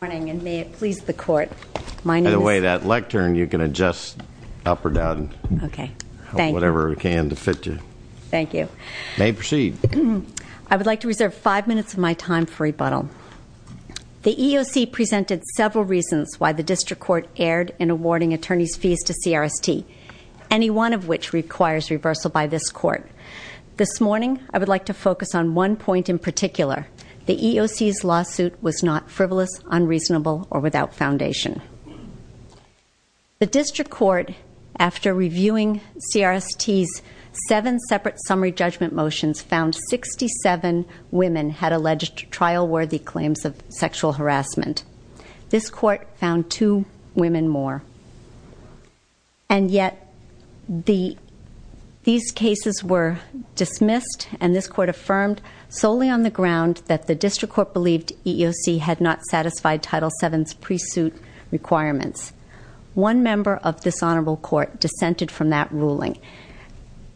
And may it please the Court, my name is- By the way, that lectern, you can adjust up or down. Okay, thank you. Whatever we can to fit you. Thank you. May we proceed? I would like to reserve five minutes of my time for rebuttal. The EEOC presented several reasons why the District Court erred in awarding attorneys' fees to CRST, any one of which requires reversal by this Court. This morning, I would like to focus on one point in particular. The EEOC's lawsuit was not frivolous, unreasonable, or without foundation. The District Court, after reviewing CRST's seven separate summary judgment motions, found 67 women had alleged trial-worthy claims of sexual harassment. This Court found two women more. And yet, these cases were dismissed, and this Court affirmed solely on the ground that the District Court believed EEOC had not satisfied Title VII's pre-suit requirements. One member of this Honorable Court dissented from that ruling.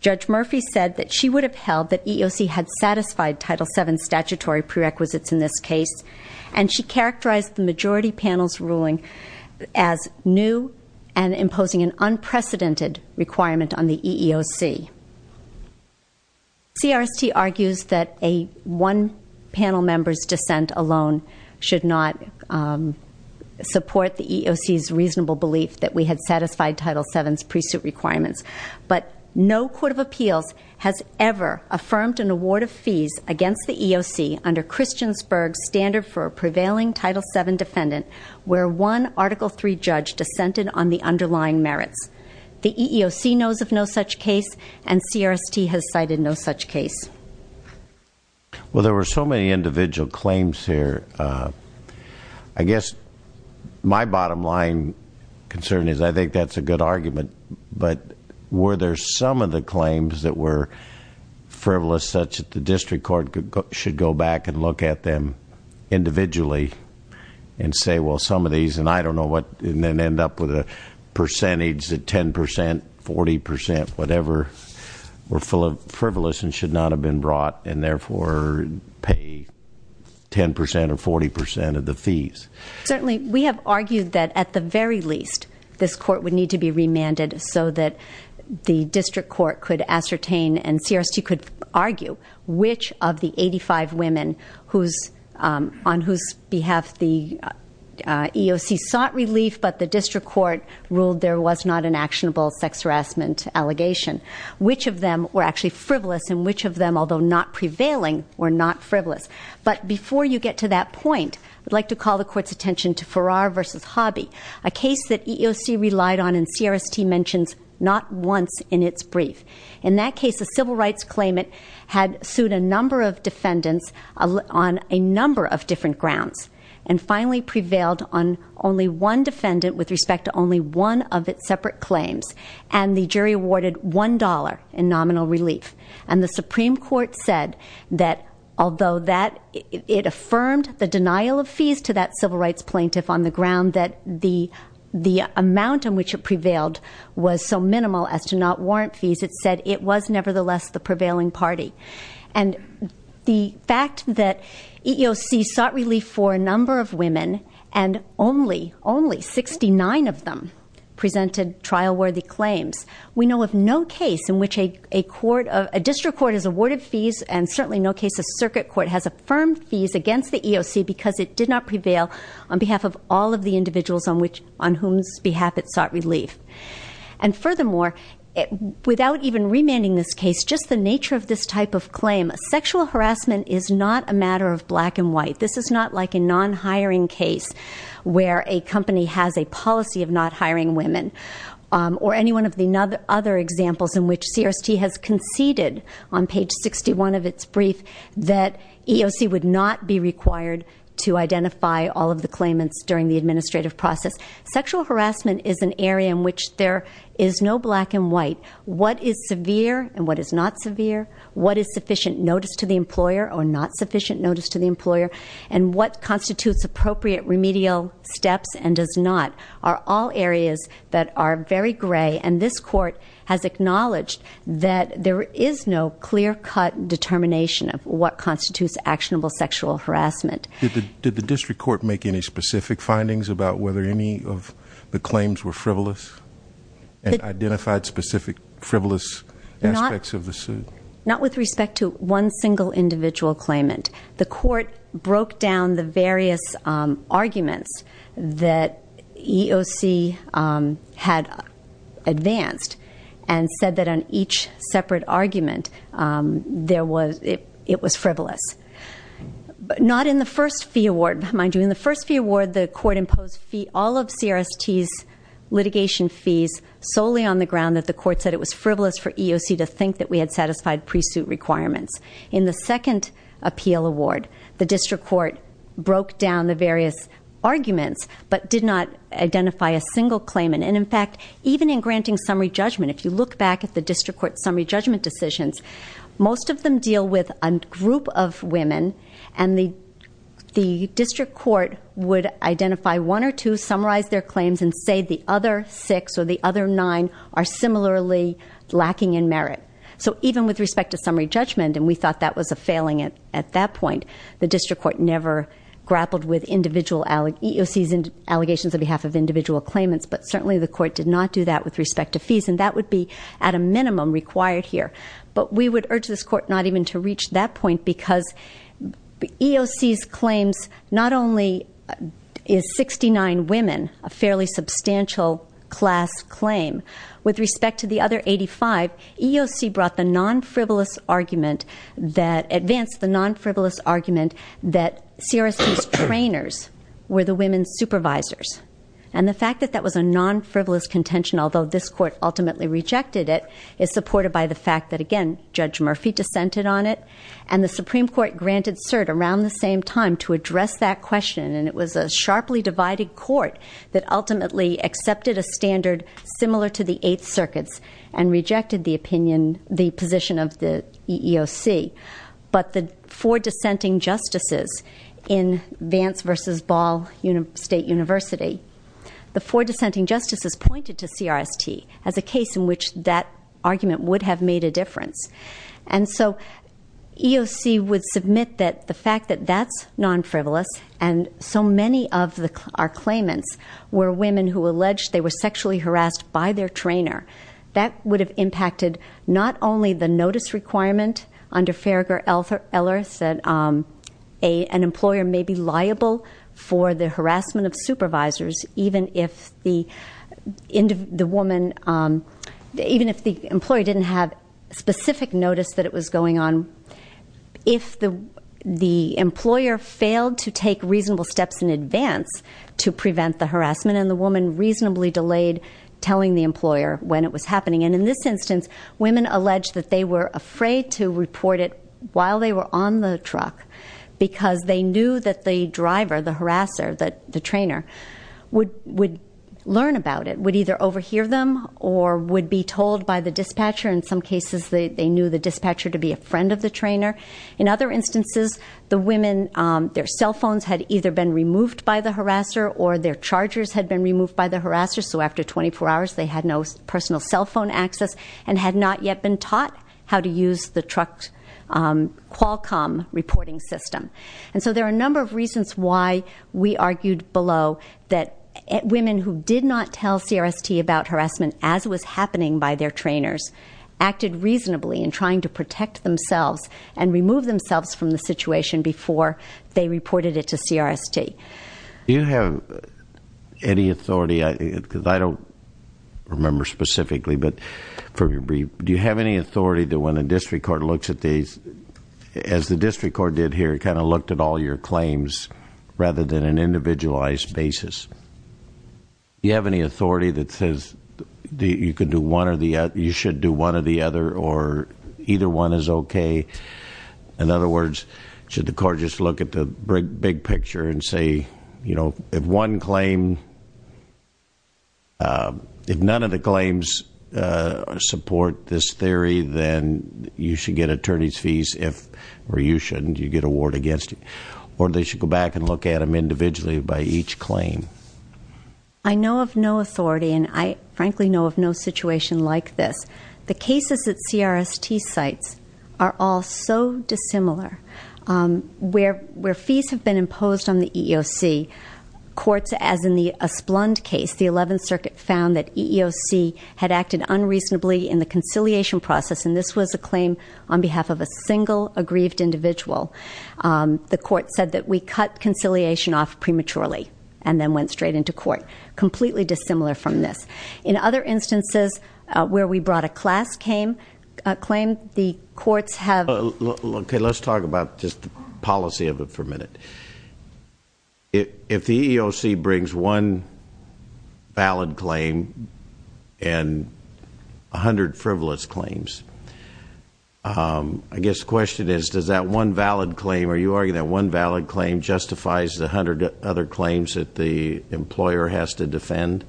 Judge Murphy said that she would have held that EEOC had satisfied Title VII's statutory prerequisites in this case, and she characterized the majority panel's ruling as new and imposing an unprecedented requirement on the EEOC. CRST argues that a one-panel member's dissent alone should not support the EEOC's reasonable belief that we had satisfied Title VII's pre-suit requirements. But no court of appeals has ever affirmed an award of fees against the EEOC under Christiansburg's standard for a prevailing Title VII defendant where one Article III judge dissented on the underlying merits. The EEOC knows of no such case, and CRST has cited no such case. Well, there were so many individual claims here. I guess my bottom line concern is I think that's a good argument, but were there some of the claims that were frivolous such that the district court should go back and look at them individually and say, well, some of these, and I don't know what, and then end up with a percentage that 10 percent, 40 percent, whatever were frivolous and should not have been brought and therefore pay 10 percent or 40 percent of the fees? Certainly. We have argued that at the very least this court would need to be remanded so that the district court could ascertain and CRST could argue which of the 85 women on whose behalf the EEOC sought relief but the district court ruled there was not an actionable sex harassment allegation, which of them were actually frivolous and which of them, although not prevailing, were not frivolous. But before you get to that point, I'd like to call the court's attention to Farrar v. Hobby, a case that EEOC relied on and CRST mentions not once in its brief. In that case, a civil rights claimant had sued a number of defendants on a number of different grounds and finally prevailed on only one defendant with respect to only one of its separate claims, and the jury awarded $1 in nominal relief, and the Supreme Court said that although it affirmed the denial of fees to that civil rights plaintiff on the ground, that the amount in which it prevailed was so minimal as to not warrant fees, it said it was nevertheless the prevailing party. And the fact that EEOC sought relief for a number of women and only 69 of them presented trial-worthy claims, we know of no case in which a district court has awarded fees and certainly no case a circuit court has affirmed fees against the EEOC because it did not prevail on behalf of all of the individuals on whose behalf it sought relief. And furthermore, without even remanding this case, just the nature of this type of claim, sexual harassment is not a matter of black and white. This is not like a non-hiring case where a company has a policy of not hiring women or any one of the other examples in which CRST has conceded on page 61 of its brief that EEOC would not be required to identify all of the claimants during the administrative process. Sexual harassment is an area in which there is no black and white. What is severe and what is not severe, what is sufficient notice to the employer or not sufficient notice to the employer, and what constitutes appropriate remedial steps and does not are all areas that are very gray. And this court has acknowledged that there is no clear-cut determination of what constitutes actionable sexual harassment. Did the district court make any specific findings about whether any of the claims were frivolous and identified specific frivolous aspects of the suit? Not with respect to one single individual claimant. The court broke down the various arguments that EEOC had advanced and said that on each separate argument it was frivolous. But not in the first fee award. Mind you, in the first fee award, the court imposed all of CRST's litigation fees solely on the ground that the court said it was frivolous for EEOC to think that we had satisfied pre-suit requirements. In the second appeal award, the district court broke down the various arguments but did not identify a single claimant. And in fact, even in granting summary judgment, if you look back at the district court's summary judgment decisions, most of them deal with a group of women and the district court would identify one or two, summarize their claims, and say the other six or the other nine are similarly lacking in merit. So even with respect to summary judgment, and we thought that was a failing at that point, the district court never grappled with EEOC's allegations on behalf of individual claimants, but certainly the court did not do that with respect to fees. And that would be, at a minimum, required here. But we would urge this court not even to reach that point because EEOC's claims, not only is 69 women a fairly substantial class claim, with respect to the other 85, EEOC brought the non-frivolous argument that, advanced the non-frivolous argument that CRSC's trainers were the women's supervisors. And the fact that that was a non-frivolous contention, although this court ultimately rejected it, is supported by the fact that, again, Judge Murphy dissented on it, and the Supreme Court granted cert around the same time to address that question. And it was a sharply divided court that ultimately accepted a standard similar to the Eighth Circuit's and rejected the position of the EEOC. But the four dissenting justices in Vance v. Ball State University, the four dissenting justices pointed to CRST as a case in which that argument would have made a difference. And so EEOC would submit that the fact that that's non-frivolous, and so many of our claimants were women who alleged they were sexually harassed by their trainer, that would have impacted not only the notice requirement under Farragher-Eller that an employer may be liable for the harassment of supervisors, even if the employee didn't have specific notice that it was going on, if the employer failed to take reasonable steps in advance to prevent the harassment, and the woman reasonably delayed telling the employer when it was happening. And in this instance, women alleged that they were afraid to report it while they were on the truck because they knew that the driver, the harasser, the trainer, would learn about it, would either overhear them or would be told by the dispatcher. In some cases, they knew the dispatcher to be a friend of the trainer. In other instances, the women, their cell phones had either been removed by the harasser or their chargers had been removed by the harasser, so after 24 hours they had no personal cell phone access and had not yet been taught how to use the truck Qualcomm reporting system. And so there are a number of reasons why we argued below that women who did not tell CRST about harassment as was happening by their trainers acted reasonably in trying to protect themselves and remove themselves from the situation before they reported it to CRST. Do you have any authority, because I don't remember specifically, but do you have any authority that when a district court looks at these, as the district court did here, kind of looked at all your claims rather than an individualized basis, do you have any authority that says you could do one or the other, you should do one or the other, or either one is okay? In other words, should the court just look at the big picture and say, you know, if one claim, if none of the claims support this theory, then you should get attorney's fees if, or you shouldn't, you get a ward against you, or they should go back and look at them individually by each claim? I know of no authority, and I frankly know of no situation like this. The cases that CRST cites are all so dissimilar. Where fees have been imposed on the EEOC, courts, as in the Esplund case, the 11th Circuit found that EEOC had acted unreasonably in the conciliation process, and this was a claim on behalf of a single aggrieved individual. The court said that we cut conciliation off prematurely and then went straight into court. Completely dissimilar from this. In other instances where we brought a class claim, the courts have- Okay, let's talk about just the policy of it for a minute. If the EEOC brings one valid claim and 100 frivolous claims, I guess the question is, does that one valid claim, or are you arguing that one valid claim justifies the 100 other claims that the employer has to defend?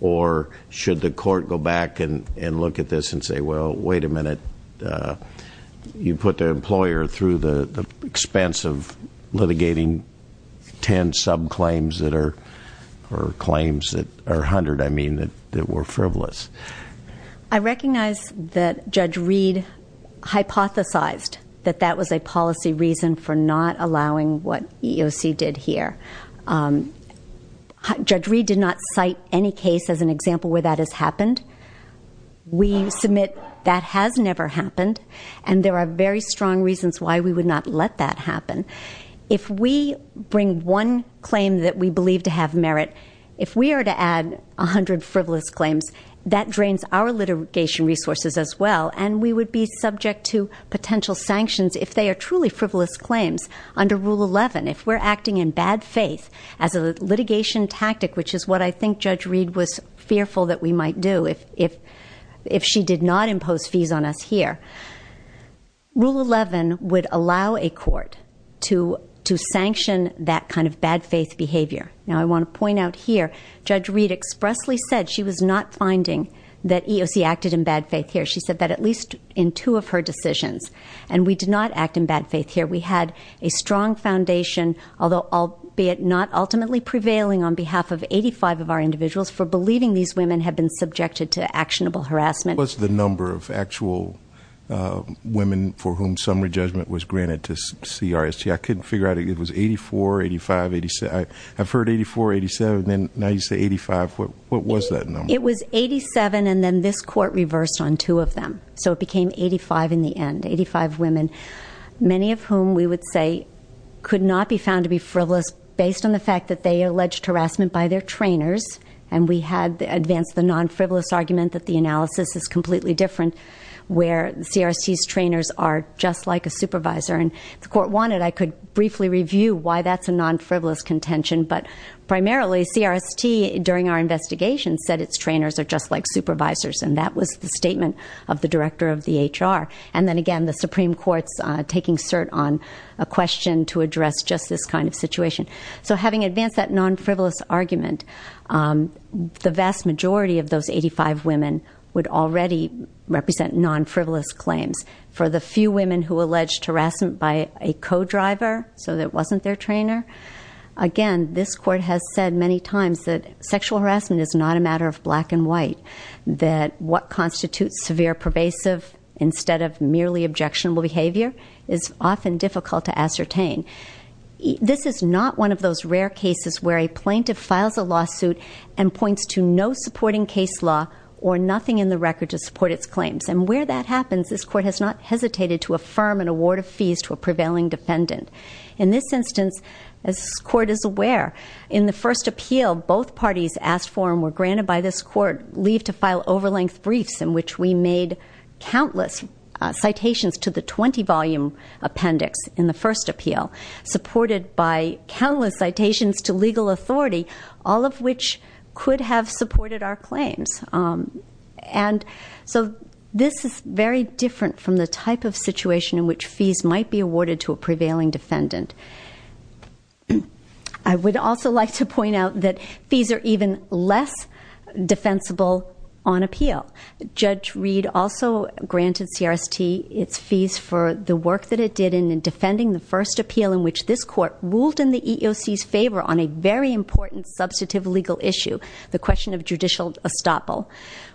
Or should the court go back and look at this and say, well, wait a minute, you put the employer through the expense of litigating 10 sub-claims that are- or claims that are 100, I mean, that were frivolous. I recognize that Judge Reed hypothesized that that was a policy reason for not allowing what EEOC did here. Judge Reed did not cite any case as an example where that has happened. We submit that has never happened, and there are very strong reasons why we would not let that happen. If we bring one claim that we believe to have merit, if we are to add 100 frivolous claims, that drains our litigation resources as well, and we would be subject to potential sanctions if they are truly frivolous claims. Under Rule 11, if we're acting in bad faith as a litigation tactic, which is what I think Judge Reed was fearful that we might do, if she did not impose fees on us here, Rule 11 would allow a court to sanction that kind of bad faith behavior. Now, I want to point out here, Judge Reed expressly said she was not finding that EEOC acted in bad faith here. She said that at least in two of her decisions. And we did not act in bad faith here. We had a strong foundation, although albeit not ultimately prevailing on behalf of 85 of our individuals, for believing these women have been subjected to actionable harassment. What's the number of actual women for whom summary judgment was granted to CRST? I couldn't figure out. It was 84, 85, 87. I've heard 84, 87, and now you say 85. What was that number? It was 87, and then this court reversed on two of them. So it became 85 in the end, 85 women, many of whom we would say could not be found to be frivolous based on the fact that they alleged harassment by their trainers. And we had advanced the non-frivolous argument that the analysis is completely different, where CRST's trainers are just like a supervisor. And if the court wanted, I could briefly review why that's a non-frivolous contention. But primarily, CRST, during our investigation, said its trainers are just like supervisors. And that was the statement of the director of the HR. And then again, the Supreme Court's taking cert on a question to address just this kind of situation. So having advanced that non-frivolous argument, the vast majority of those 85 women would already represent non-frivolous claims. For the few women who alleged harassment by a co-driver, so it wasn't their trainer, again, this court has said many times that sexual harassment is not a matter of black and white, that what constitutes severe pervasive instead of merely objectionable behavior is often difficult to ascertain. This is not one of those rare cases where a plaintiff files a lawsuit and points to no supporting case law or nothing in the record to support its claims. And where that happens, this court has not hesitated to affirm an award of fees to a prevailing defendant. In this instance, as this court is aware, in the first appeal, both parties asked for and were granted by this court leave to file over-length briefs in which we made countless citations to the 20-volume appendix in the first appeal, supported by countless citations to legal authority, all of which could have supported our claims. And so this is very different from the type of situation in which fees might be awarded to a prevailing defendant. I would also like to point out that fees are even less defensible on appeal. Judge Reed also granted CRST its fees for the work that it did in defending the first appeal in which this court ruled in the EEOC's favor on a very important substantive legal issue, the question of judicial estoppel,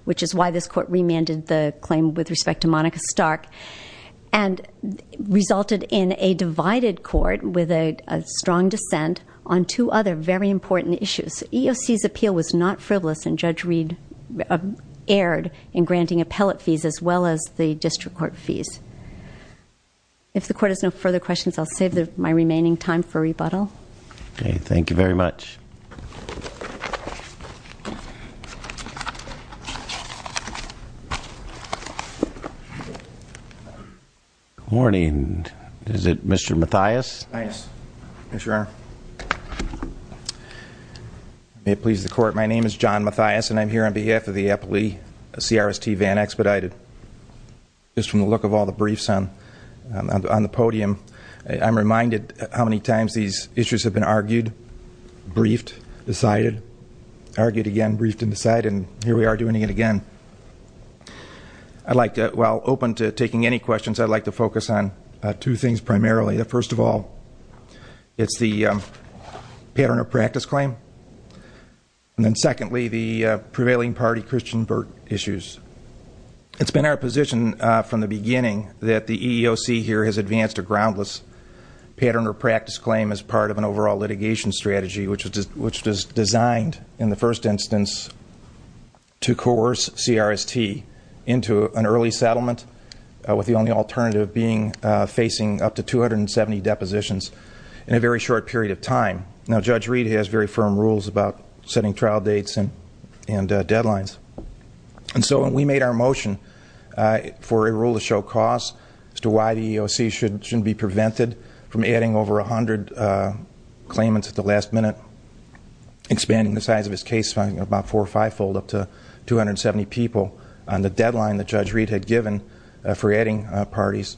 which is why this court remanded the claim with respect to Monica Stark, and resulted in a divided court with a strong dissent on two other very important issues. EEOC's appeal was not frivolous, and Judge Reed erred in granting appellate fees as well as the district court fees. If the court has no further questions, I'll save my remaining time for rebuttal. Okay, thank you very much. Good morning. Is it Mr. Mathias? Mathias. Yes, Your Honor. May it please the court, my name is John Mathias, and I'm here on behalf of the appellee CRST Van Expedited. Just from the look of all the briefs on the podium, I'm reminded how many times these issues have been argued, briefed, decided, argued again, briefed and decided, and here we are doing it again. I'd like to, while open to taking any questions, I'd like to focus on two things primarily. First of all, it's the pattern or practice claim. And then secondly, the prevailing party Christian Burt issues. It's been our position from the beginning that the EEOC here has advanced a groundless pattern or practice claim as part of an overall litigation strategy, which was designed in the first instance to coerce CRST into an early settlement, with the only alternative being facing up to 270 depositions in a very short period of time. Now, Judge Reed has very firm rules about setting trial dates and deadlines. And so we made our motion for a rule to show cause as to why the EEOC shouldn't be prevented from adding over 100 claimants at the last minute, expanding the size of its case fund about four or fivefold up to 270 people on the deadline that Judge Reed had given for adding parties.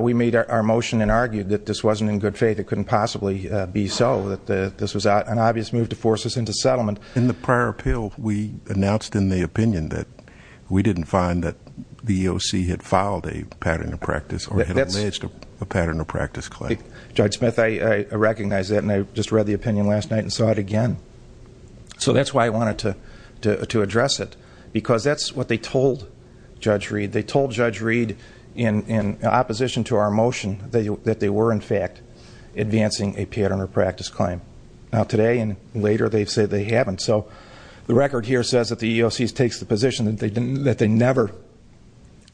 We made our motion and argued that this wasn't in good faith. It couldn't possibly be so, that this was an obvious move to force us into settlement. In the prior appeal, we announced in the opinion that we didn't find that the EEOC had filed a pattern of practice or had alleged a pattern of practice claim. Judge Smith, I recognize that, and I just read the opinion last night and saw it again. So that's why I wanted to address it, because that's what they told Judge Reed. They told Judge Reed, in opposition to our motion, that they were, in fact, advancing a pattern of practice claim. Now, today and later, they say they haven't. So the record here says that the EEOC takes the position that they never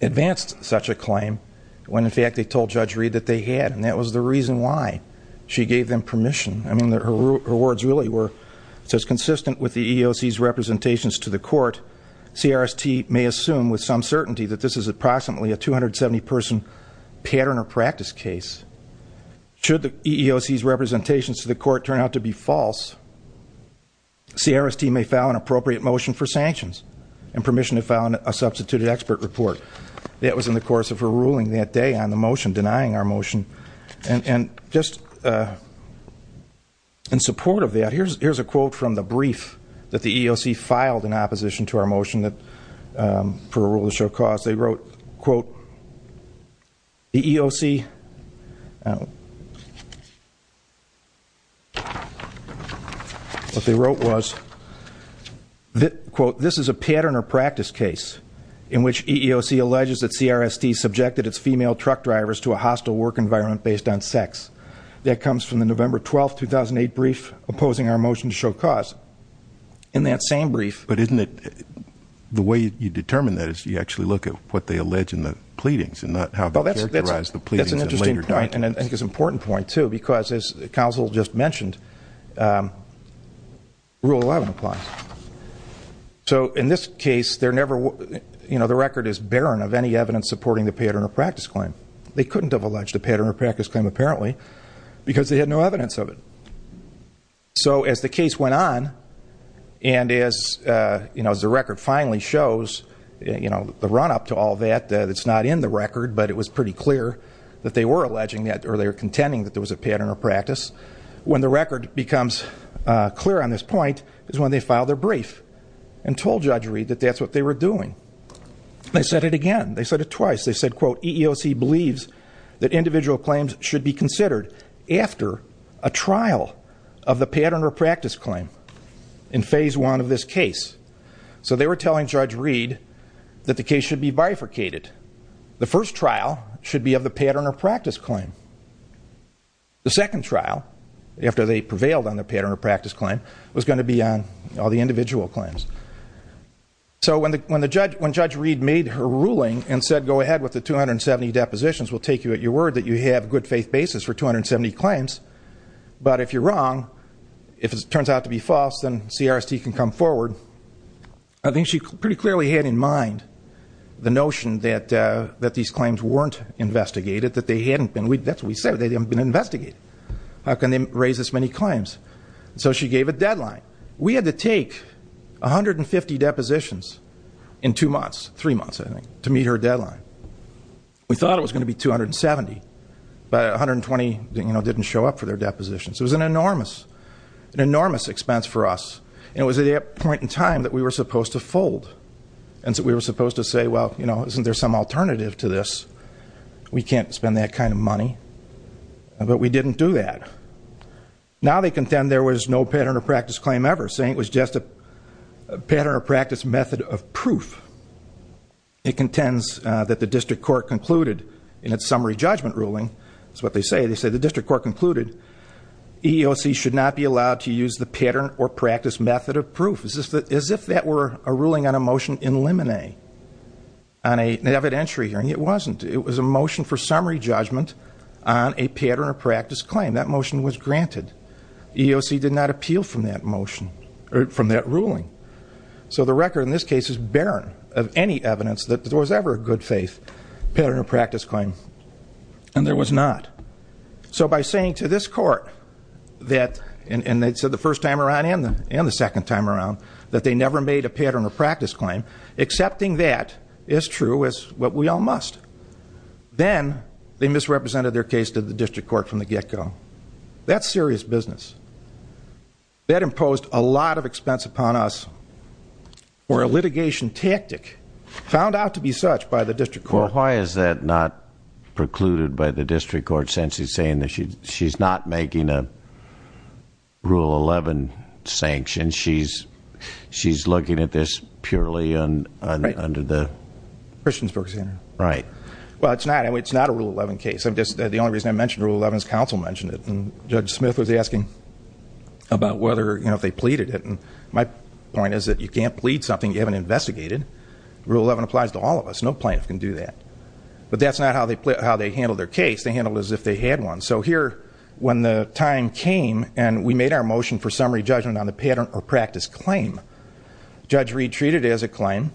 advanced such a claim, when, in fact, they told Judge Reed that they had, and that was the reason why she gave them permission. I mean, her words really were consistent with the EEOC's representations to the court. CRST may assume with some certainty that this is approximately a 270-person pattern of practice case. Should the EEOC's representations to the court turn out to be false, CRST may file an appropriate motion for sanctions and permission to file a substituted expert report. That was in the course of her ruling that day on the motion, denying our motion. And just in support of that, here's a quote from the brief that the EEOC filed in opposition to our motion for a rule of short cause. They wrote, quote, the EEOC, what they wrote was, quote, this is a pattern or practice case in which EEOC alleges that CRST subjected its female truck drivers to a hostile work environment based on sex. That comes from the November 12, 2008 brief opposing our motion to show cause. In that same brief. But isn't it, the way you determine that is you actually look at what they allege in the pleadings and not how they characterize the pleadings in later documents. That's an interesting point, and I think it's an important point, too, because as counsel just mentioned, rule 11 applies. So in this case, they're never, you know, the record is barren of any evidence supporting the pattern or practice claim. They couldn't have alleged a pattern or practice claim, apparently, because they had no evidence of it. So as the case went on, and as, you know, as the record finally shows, you know, the run up to all that. It's not in the record, but it was pretty clear that they were alleging that or they were contending that there was a pattern or practice. When the record becomes clear on this point is when they filed their brief and told Judge Reed that that's what they were doing. They said it again. They said it twice. They said, quote, EEOC believes that individual claims should be considered after a trial of the pattern or practice claim in phase one of this case. So they were telling Judge Reed that the case should be bifurcated. The first trial should be of the pattern or practice claim. The second trial, after they prevailed on the pattern or practice claim, was going to be on all the individual claims. So when Judge Reed made her ruling and said, go ahead with the 270 depositions, we'll take you at your word that you have good faith basis for 270 claims. But if you're wrong, if it turns out to be false, then CRST can come forward. I think she pretty clearly had in mind the notion that these claims weren't investigated, that they hadn't been. That's what we said. They haven't been investigated. How can they raise this many claims? So she gave a deadline. We had to take 150 depositions in two months, three months, I think, to meet her deadline. We thought it was going to be 270, but 120 didn't show up for their depositions. It was an enormous expense for us. And it was at that point in time that we were supposed to fold. And so we were supposed to say, well, isn't there some alternative to this? We can't spend that kind of money. But we didn't do that. Now they contend there was no pattern of practice claim ever, saying it was just a pattern of practice method of proof. It contends that the district court concluded in its summary judgment ruling. That's what they say. They say the district court concluded EEOC should not be allowed to use the pattern or practice method of proof. As if that were a ruling on a motion in limine. On an evidentiary hearing, it wasn't. It was a motion for summary judgment on a pattern of practice claim. That motion was granted. EEOC did not appeal from that ruling. So the record in this case is barren of any evidence that there was ever a good faith pattern of practice claim. And there was not. So by saying to this court that, and they said the first time around and the second time around, that they never made a pattern of practice claim, accepting that is true is what we all must. Then, they misrepresented their case to the district court from the get-go. That's serious business. That imposed a lot of expense upon us for a litigation tactic found out to be such by the district court. Well, why is that not precluded by the district court, since it's saying that she's not making a Rule 11 sanction? She's looking at this purely under the... Well, it's not. It's not a Rule 11 case. The only reason I mentioned Rule 11 is council mentioned it. And Judge Smith was asking about whether, you know, if they pleaded it. And my point is that you can't plead something you haven't investigated. Rule 11 applies to all of us. No plaintiff can do that. But that's not how they handled their case. They handled it as if they had one. So here, when the time came and we made our motion for summary judgment on the pattern of practice claim, Judge Reed treated it as a claim,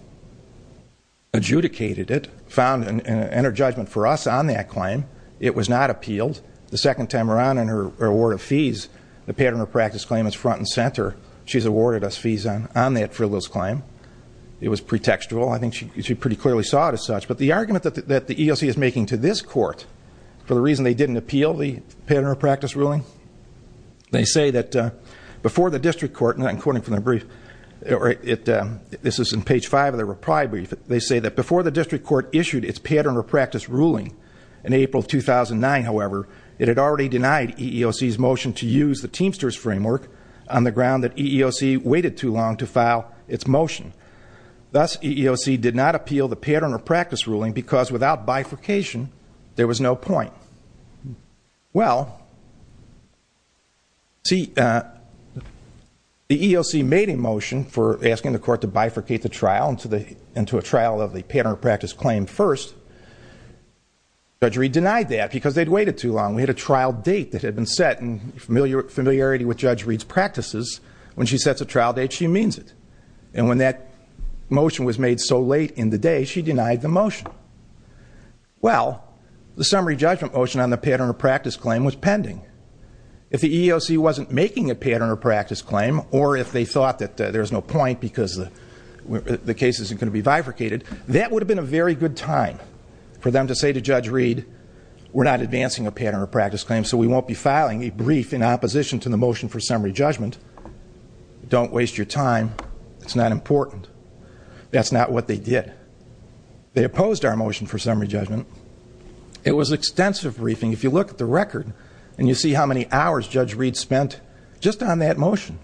adjudicated it, found an inner judgment for us on that claim. It was not appealed. The second time around in her award of fees, the pattern of practice claim is front and center. She's awarded us fees on that frivolous claim. It was pretextual. I think she pretty clearly saw it as such. But the argument that the ELC is making to this court for the reason they didn't appeal the pattern of practice ruling, they say that before the district court, and I'm quoting from their brief, this is in page 5 of their reply brief, they say that before the district court issued its pattern of practice ruling in April 2009, however, it had already denied EEOC's motion to use the Teamsters framework on the ground that EEOC waited too long to file its motion. Thus, EEOC did not appeal the pattern of practice ruling because without bifurcation, there was no point. Well, see, the EEOC made a motion for asking the court to bifurcate the trial into a trial of the pattern of practice claim first. Judge Reed denied that because they'd waited too long. We had a trial date that had been set in familiarity with Judge Reed's practices. When she sets a trial date, she means it. And when that motion was made so late in the day, she denied the motion. Well, the summary judgment motion on the pattern of practice claim was pending. If the EEOC wasn't making a pattern of practice claim or if they thought that there was no point because the case isn't going to be bifurcated, that would have been a very good time for them to say to Judge Reed, we're not advancing a pattern of practice claim, so we won't be filing a brief in opposition to the motion for summary judgment. Don't waste your time. It's not important. That's not what they did. They opposed our motion for summary judgment. It was extensive briefing. If you look at the record and you see how many hours Judge Reed spent just on that motion,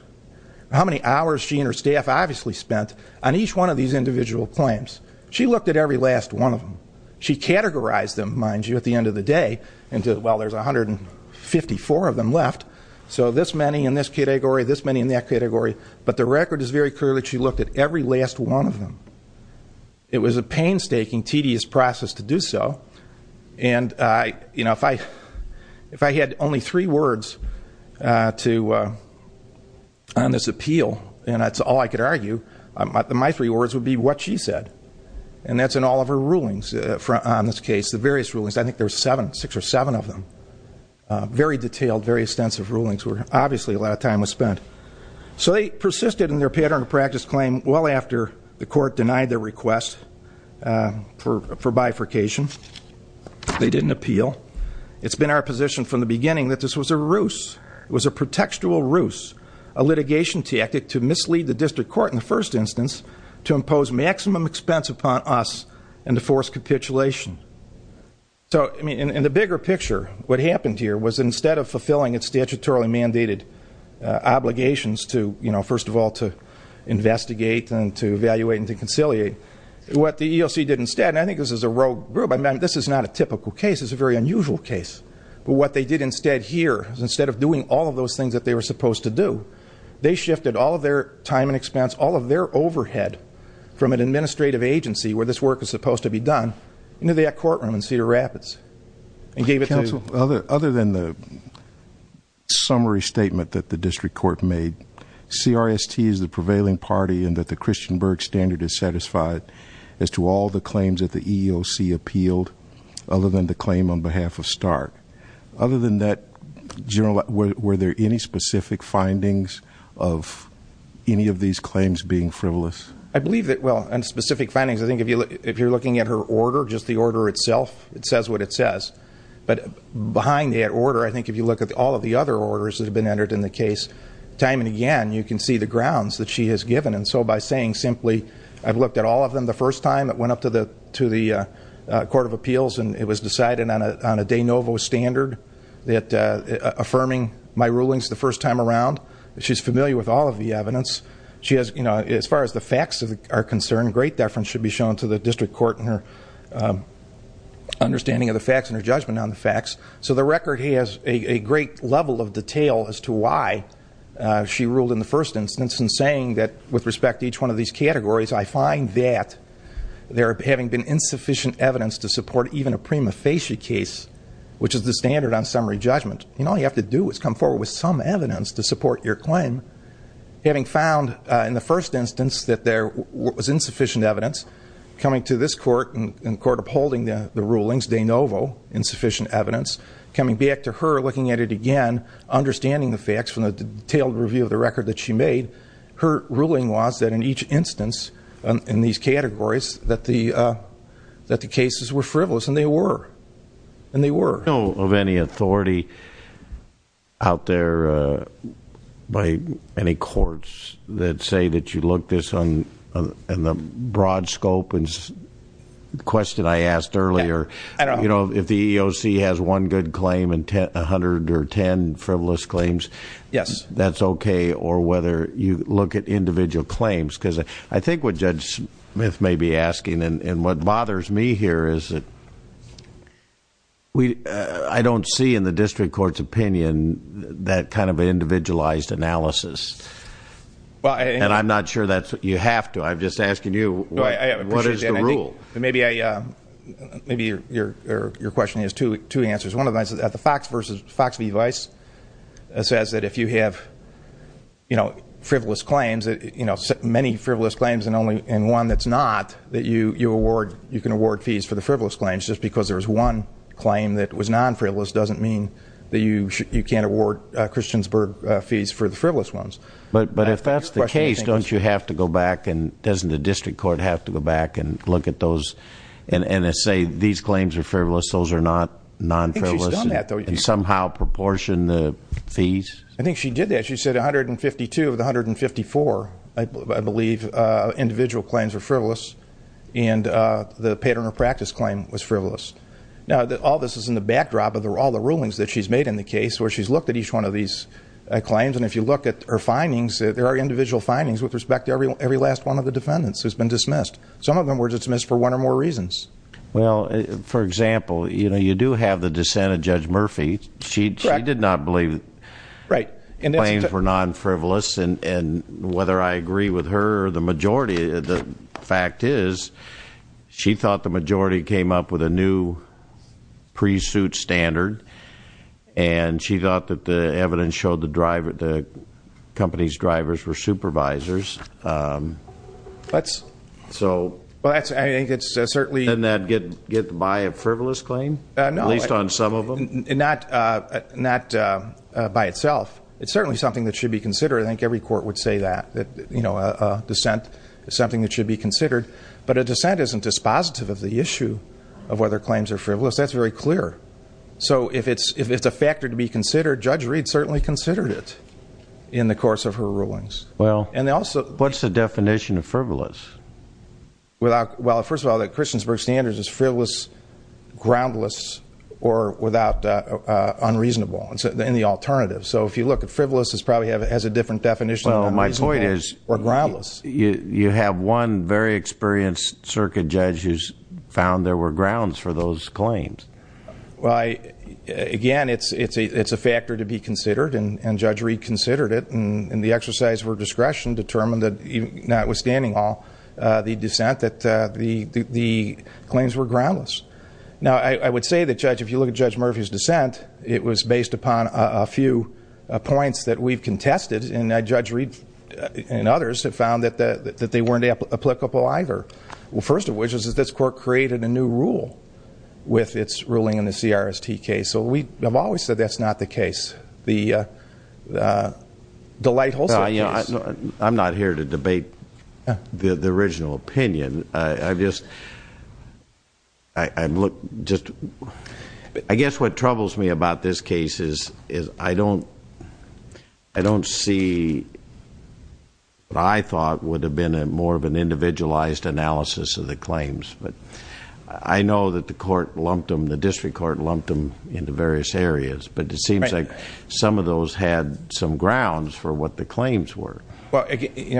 how many hours she and her staff obviously spent on each one of these individual claims, she looked at every last one of them. She categorized them, mind you, at the end of the day into, well, there's 154 of them left, so this many in this category, this many in that category, but the record is very clear that she looked at every last one of them. It was a painstaking, tedious process to do so, and, you know, if I had only three words on this appeal, and that's all I could argue, my three words would be what she said, and that's in all of her rulings on this case, the various rulings. I think there were seven, six or seven of them, very detailed, very extensive rulings where obviously a lot of time was spent. So they persisted in their pattern of practice claim well after the court denied their request for bifurcation. They didn't appeal. It's been our position from the beginning that this was a ruse. It was a pretextual ruse, a litigation tactic to mislead the district court in the first instance to impose maximum expense upon us and to force capitulation. So, I mean, in the bigger picture, what happened here was instead of fulfilling its statutorily mandated obligations to, you know, first of all to investigate and to evaluate and to conciliate, what the EOC did instead, and I think this is a rogue group, I mean, this is not a typical case, it's a very unusual case, but what they did instead here is instead of doing all of those things that they were supposed to do, they shifted all of their time and expense, all of their overhead from an administrative agency where this work was supposed to be done into that courtroom in Cedar Rapids and gave it to... Counsel, other than the summary statement that the district court made, CRST is the prevailing party and that the Christian Berg standard is satisfied as to all the claims that the EOC appealed, other than the claim on behalf of Stark. Other than that, General, were there any specific findings of any of these claims being frivolous? I believe that, well, and specific findings, I think if you're looking at her order, just the order itself, it says what it says, but behind that order, I think if you look at all of the other orders that have been entered in the case, time and again you can see the grounds that she has given, and so by saying simply, I've looked at all of them the first time, it went up to the Court of Appeals and it was decided on a de novo standard that affirming my rulings the first time around, she's familiar with all of the evidence, she has, as far as the facts are concerned, great deference should be shown to the district court in her understanding of the facts and her judgment on the facts, so the record has a great level of detail as to why she ruled in the first instance in saying that with respect to each one of these categories, I find that there having been insufficient evidence to support even a prima facie case, which is the standard on summary judgment, all you have to do is come forward with some evidence to support your claim, having found in the first instance that there was insufficient evidence, coming to this court and the court upholding the rulings, de novo, insufficient evidence, coming back to her, looking at it again, understanding the facts from the detailed review of the record that she made, her ruling was that in each instance in these categories that the cases were frivolous, and they were, and they were. I don't know of any authority out there by any courts that say that you look this on the broad scope, and the question I asked earlier, you know, if the EEOC has one good claim and a hundred or ten frivolous claims, that's okay, or whether you look at individual claims, because I think what Judge Smith may be asking and what bothers me here is that I don't see in the district court's opinion that kind of individualized analysis. And I'm not sure that's what you have to. I'm just asking you, what is the rule? Maybe your question has two answers. One of them is that the Fox v. Vice says that if you have, you know, frivolous claims, you know, many frivolous claims and only one that's not, that you award, you can award fees for the frivolous claims. Just because there's one claim that was non-frivolous doesn't mean that you can't award Christiansburg fees for the frivolous ones. But if that's the case, don't you have to go back and doesn't the district court have to go back and look at those and say these claims are frivolous, those are not non-frivolous? I think she's done that, though. And somehow proportion the fees? I think she did that. She said 152 of the 154, I believe, individual claims are frivolous, and the pattern of practice claim was frivolous. Now, all this is in the backdrop of all the rulings that she's made in the case where she's looked at each one of these claims, and if you look at her findings, there are individual findings with respect to every last one of the defendants who's been dismissed. Some of them were dismissed for one or more reasons. Well, for example, you do have the dissent of Judge Murphy. She did not believe the claims were non-frivolous, and whether I agree with her or the majority, the fact is she thought the majority came up with a new pre-suit standard, and she thought that the evidence showed the company's drivers were supervisors. So doesn't that get by a frivolous claim, at least on some of them? Not by itself. It's certainly something that should be considered. I think every court would say that, that a dissent is something that should be considered. But a dissent isn't dispositive of the issue of whether claims are frivolous. That's very clear. So if it's a factor to be considered, Judge Reed certainly considered it in the course of her rulings. What's the definition of frivolous? Well, first of all, the Christiansburg standards is frivolous, groundless, or unreasonable in the alternative. So if you look, frivolous probably has a different definition than groundless. You have one very experienced circuit judge who's found there were grounds for those claims. Again, it's a factor to be considered, and Judge Reed considered it. And the exercise of her discretion determined that, notwithstanding all the dissent, that the claims were groundless. Now, I would say that, Judge, if you look at Judge Murphy's dissent, it was based upon a few points that we've contested, and Judge Reed and others have found that they weren't applicable either. Well, first of which is that this court created a new rule with its ruling in the CRST case. So we have always said that's not the case. I'm not here to debate the original opinion. I guess what troubles me about this case is I don't see what I thought would have been more of an individualized analysis of the claims. But I know that the court lumped them, the district court lumped them into various areas, but it seems like some of those had some grounds for what the claims were. Well,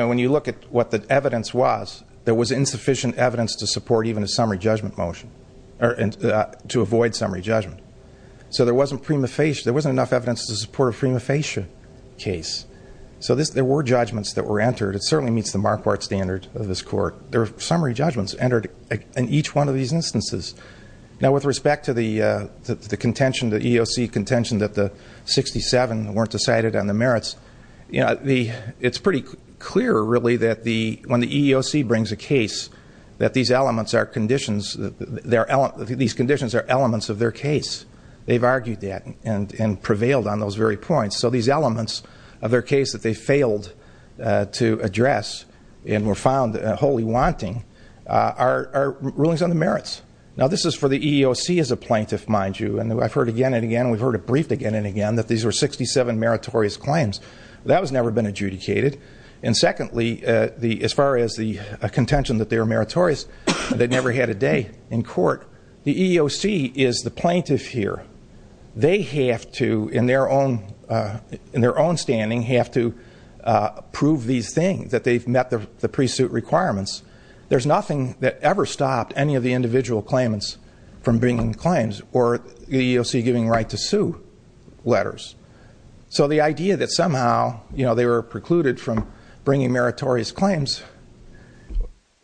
when you look at what the evidence was, there was insufficient evidence to support even a summary judgment motion, or to avoid summary judgment. So there wasn't enough evidence to support a prima facie case. So there were judgments that were entered. It certainly meets the Marquardt standard of this court. There were summary judgments entered in each one of these instances. Now, with respect to the contention, the EEOC contention that the 67 weren't decided on the merits, it's pretty clear, really, that when the EEOC brings a case, that these conditions are elements of their case. They've argued that and prevailed on those very points. So these elements of their case that they failed to address and were found wholly wanting are rulings on the merits. Now, this is for the EEOC as a plaintiff, mind you. And I've heard again and again, and we've heard it briefed again and again, that these were 67 meritorious claims. That was never been adjudicated. And secondly, as far as the contention that they were meritorious, they never had a day in court. The EEOC is the plaintiff here. They have to, in their own standing, have to prove these things, that they've met the pre-suit requirements. There's nothing that ever stopped any of the individual claimants from bringing claims or the EEOC giving right to sue letters. So the idea that somehow they were precluded from bringing meritorious claims,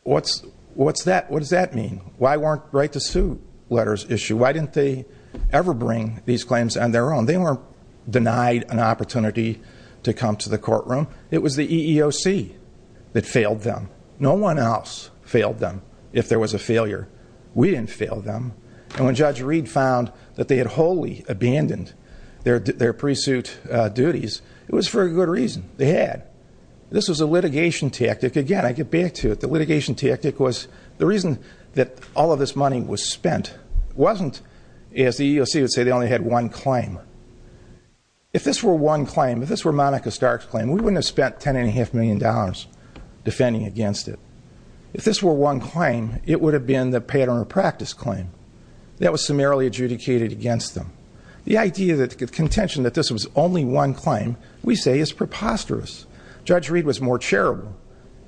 what does that mean? Why weren't right to sue letters issued? Why didn't they ever bring these claims on their own? They weren't denied an opportunity to come to the courtroom. It was the EEOC that failed them. No one else failed them if there was a failure. We didn't fail them. And when Judge Reed found that they had wholly abandoned their pre-suit duties, it was for a good reason. They had. This was a litigation tactic. Again, I get back to it. The litigation tactic was the reason that all of this money was spent wasn't, as the EEOC would say, they only had one claim. If this were one claim, if this were Monica Stark's claim, we wouldn't have spent $10.5 million defending against it. If this were one claim, it would have been the pattern or practice claim. That was summarily adjudicated against them. The idea that the contention that this was only one claim, we say, is preposterous. Judge Reed was more charitable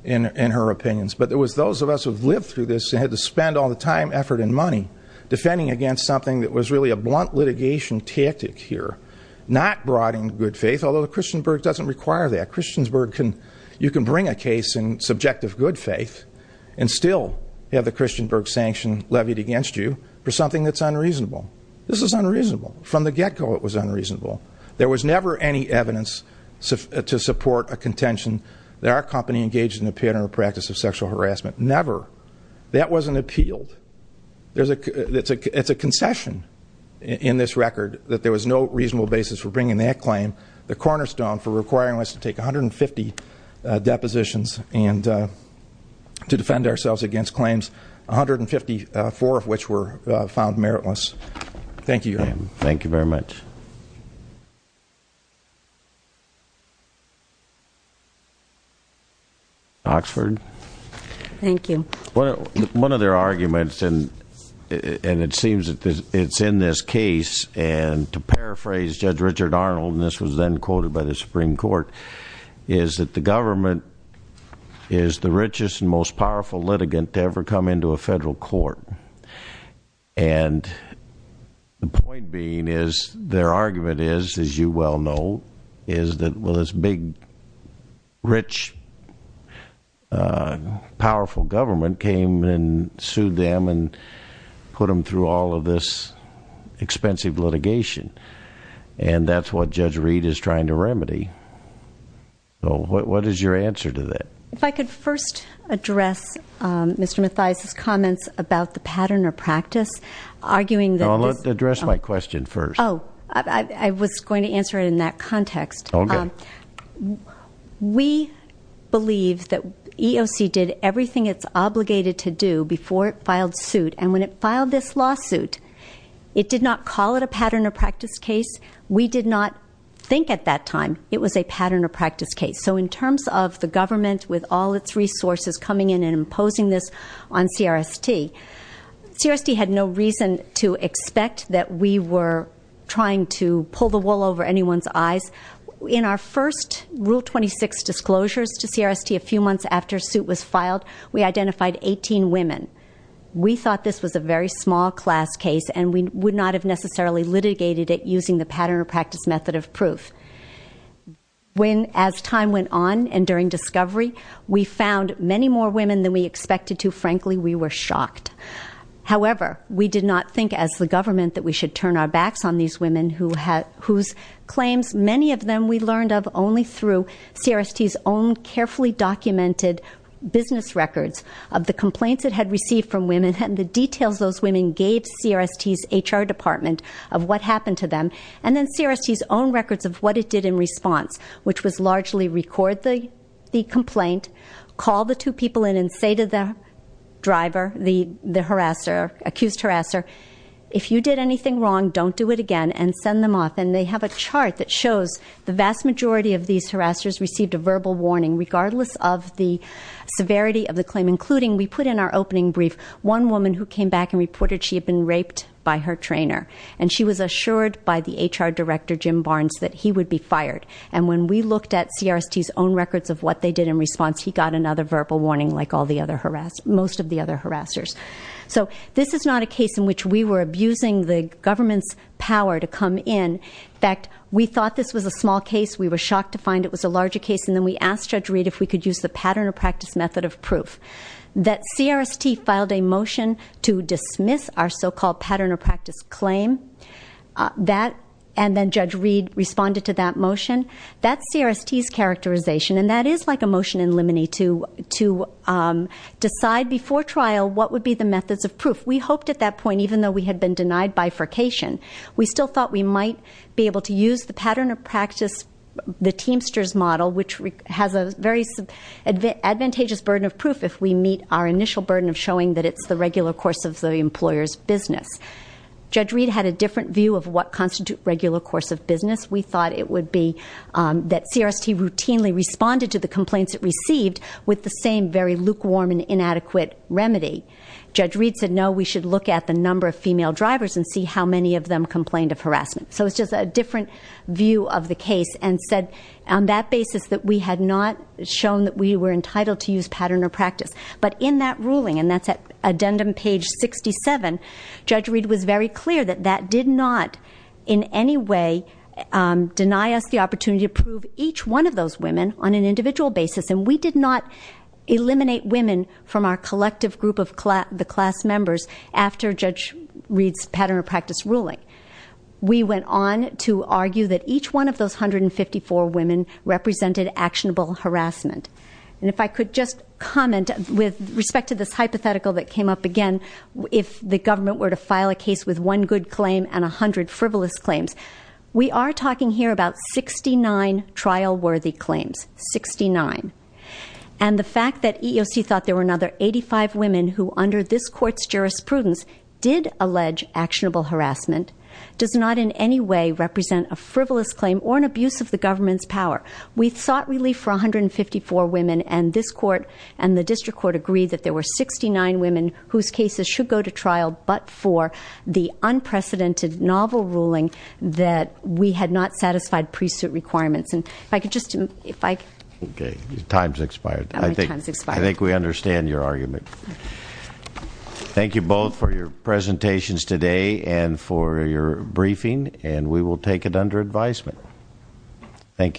in her opinions, but it was those of us who have lived through this and had to spend all the time, effort, and money defending against something that was really a blunt litigation tactic here, not brought in good faith, although the Christiansburg doesn't require that. Christiansburg can, you can bring a case in subjective good faith and still have the Christiansburg sanction levied against you for something that's unreasonable. This is unreasonable. From the get-go, it was unreasonable. There was never any evidence to support a contention that our company engaged in a pattern or practice of sexual harassment. Never. That wasn't appealed. It's a concession in this record that there was no reasonable basis for bringing that claim. The cornerstone for requiring us to take 150 depositions and to defend ourselves against claims, 154 of which were found meritless. Thank you. Thank you very much. Oxford. Thank you. One of their arguments, and it seems that it's in this case, and to paraphrase Judge Richard Arnold, and this was then quoted by the Supreme Court, is that the government is the richest and most powerful litigant to ever come into a federal court. And the point being is their argument is, as you well know, is that this big, rich, powerful government came and sued them and put them through all of this expensive litigation. And that's what Judge Reed is trying to remedy. So what is your answer to that? If I could first address Mr. Mathias's comments about the pattern or practice. I'll address my question first. Oh, I was going to answer it in that context. Okay. We believe that EOC did everything it's obligated to do before it filed suit. And when it filed this lawsuit, it did not call it a pattern or practice case. We did not think at that time it was a pattern or practice case. So in terms of the government with all its resources coming in and imposing this on CRST, CRST had no reason to expect that we were trying to pull the wool over anyone's eyes. In our first Rule 26 disclosures to CRST a few months after suit was filed, we identified 18 women. We thought this was a very small class case, and we would not have necessarily litigated it using the pattern or practice method of proof. As time went on and during discovery, we found many more women than we expected to. Frankly, we were shocked. However, we did not think as the government that we should turn our backs on these women whose claims, many of them we learned of only through CRST's own carefully documented business records of the complaints it had received from women and the details those women gave CRST's HR department of what happened to them and then CRST's own records of what it did in response, which was largely record the complaint, call the two people in, and say to the driver, the harasser, accused harasser, if you did anything wrong, don't do it again, and send them off. And they have a chart that shows the vast majority of these harassers received a verbal warning, regardless of the severity of the claim, including we put in our opening brief one woman who came back and reported she had been raped by her trainer, and she was assured by the HR director, Jim Barnes, that he would be fired. And when we looked at CRST's own records of what they did in response, he got another verbal warning like most of the other harassers. So this is not a case in which we were abusing the government's power to come in. In fact, we thought this was a small case. We were shocked to find it was a larger case, and then we asked Judge Reed if we could use the pattern of practice method of proof. That CRST filed a motion to dismiss our so-called pattern of practice claim, and then Judge Reed responded to that motion. That's CRST's characterization, and that is like a motion in limine to decide before trial what would be the methods of proof. We hoped at that point, even though we had been denied bifurcation, we still thought we might be able to use the pattern of practice, the Teamsters model, which has a very advantageous burden of proof if we meet our initial burden of showing that it's the regular course of the employer's business. Judge Reed had a different view of what constitutes regular course of business. We thought it would be that CRST routinely responded to the complaints it received with the same very lukewarm and inadequate remedy. Judge Reed said, no, we should look at the number of female drivers and see how many of them complained of harassment. So it's just a different view of the case and said on that basis that we had not shown that we were entitled to use pattern of practice. But in that ruling, and that's at addendum page 67, Judge Reed was very clear that that did not in any way deny us the opportunity to prove each one of those women on an individual basis, and we did not eliminate women from our collective group of the class members after Judge Reed's pattern of practice ruling. We went on to argue that each one of those 154 women represented actionable harassment. And if I could just comment with respect to this hypothetical that came up again, if the government were to file a case with one good claim and 100 frivolous claims, we are talking here about 69 trial-worthy claims, 69. And the fact that EEOC thought there were another 85 women who under this court's jurisprudence did allege actionable harassment does not in any way represent a frivolous claim or an abuse of the government's power. We sought relief for 154 women, and this court and the district court agreed that there were 69 women whose cases should go to trial but for the unprecedented novel ruling that we had not satisfied pre-suit requirements. And if I could just, if I could... Okay, time's expired. I think we understand your argument. Thank you both for your presentations today and for your briefing, and we will take it under advisement. Thank you.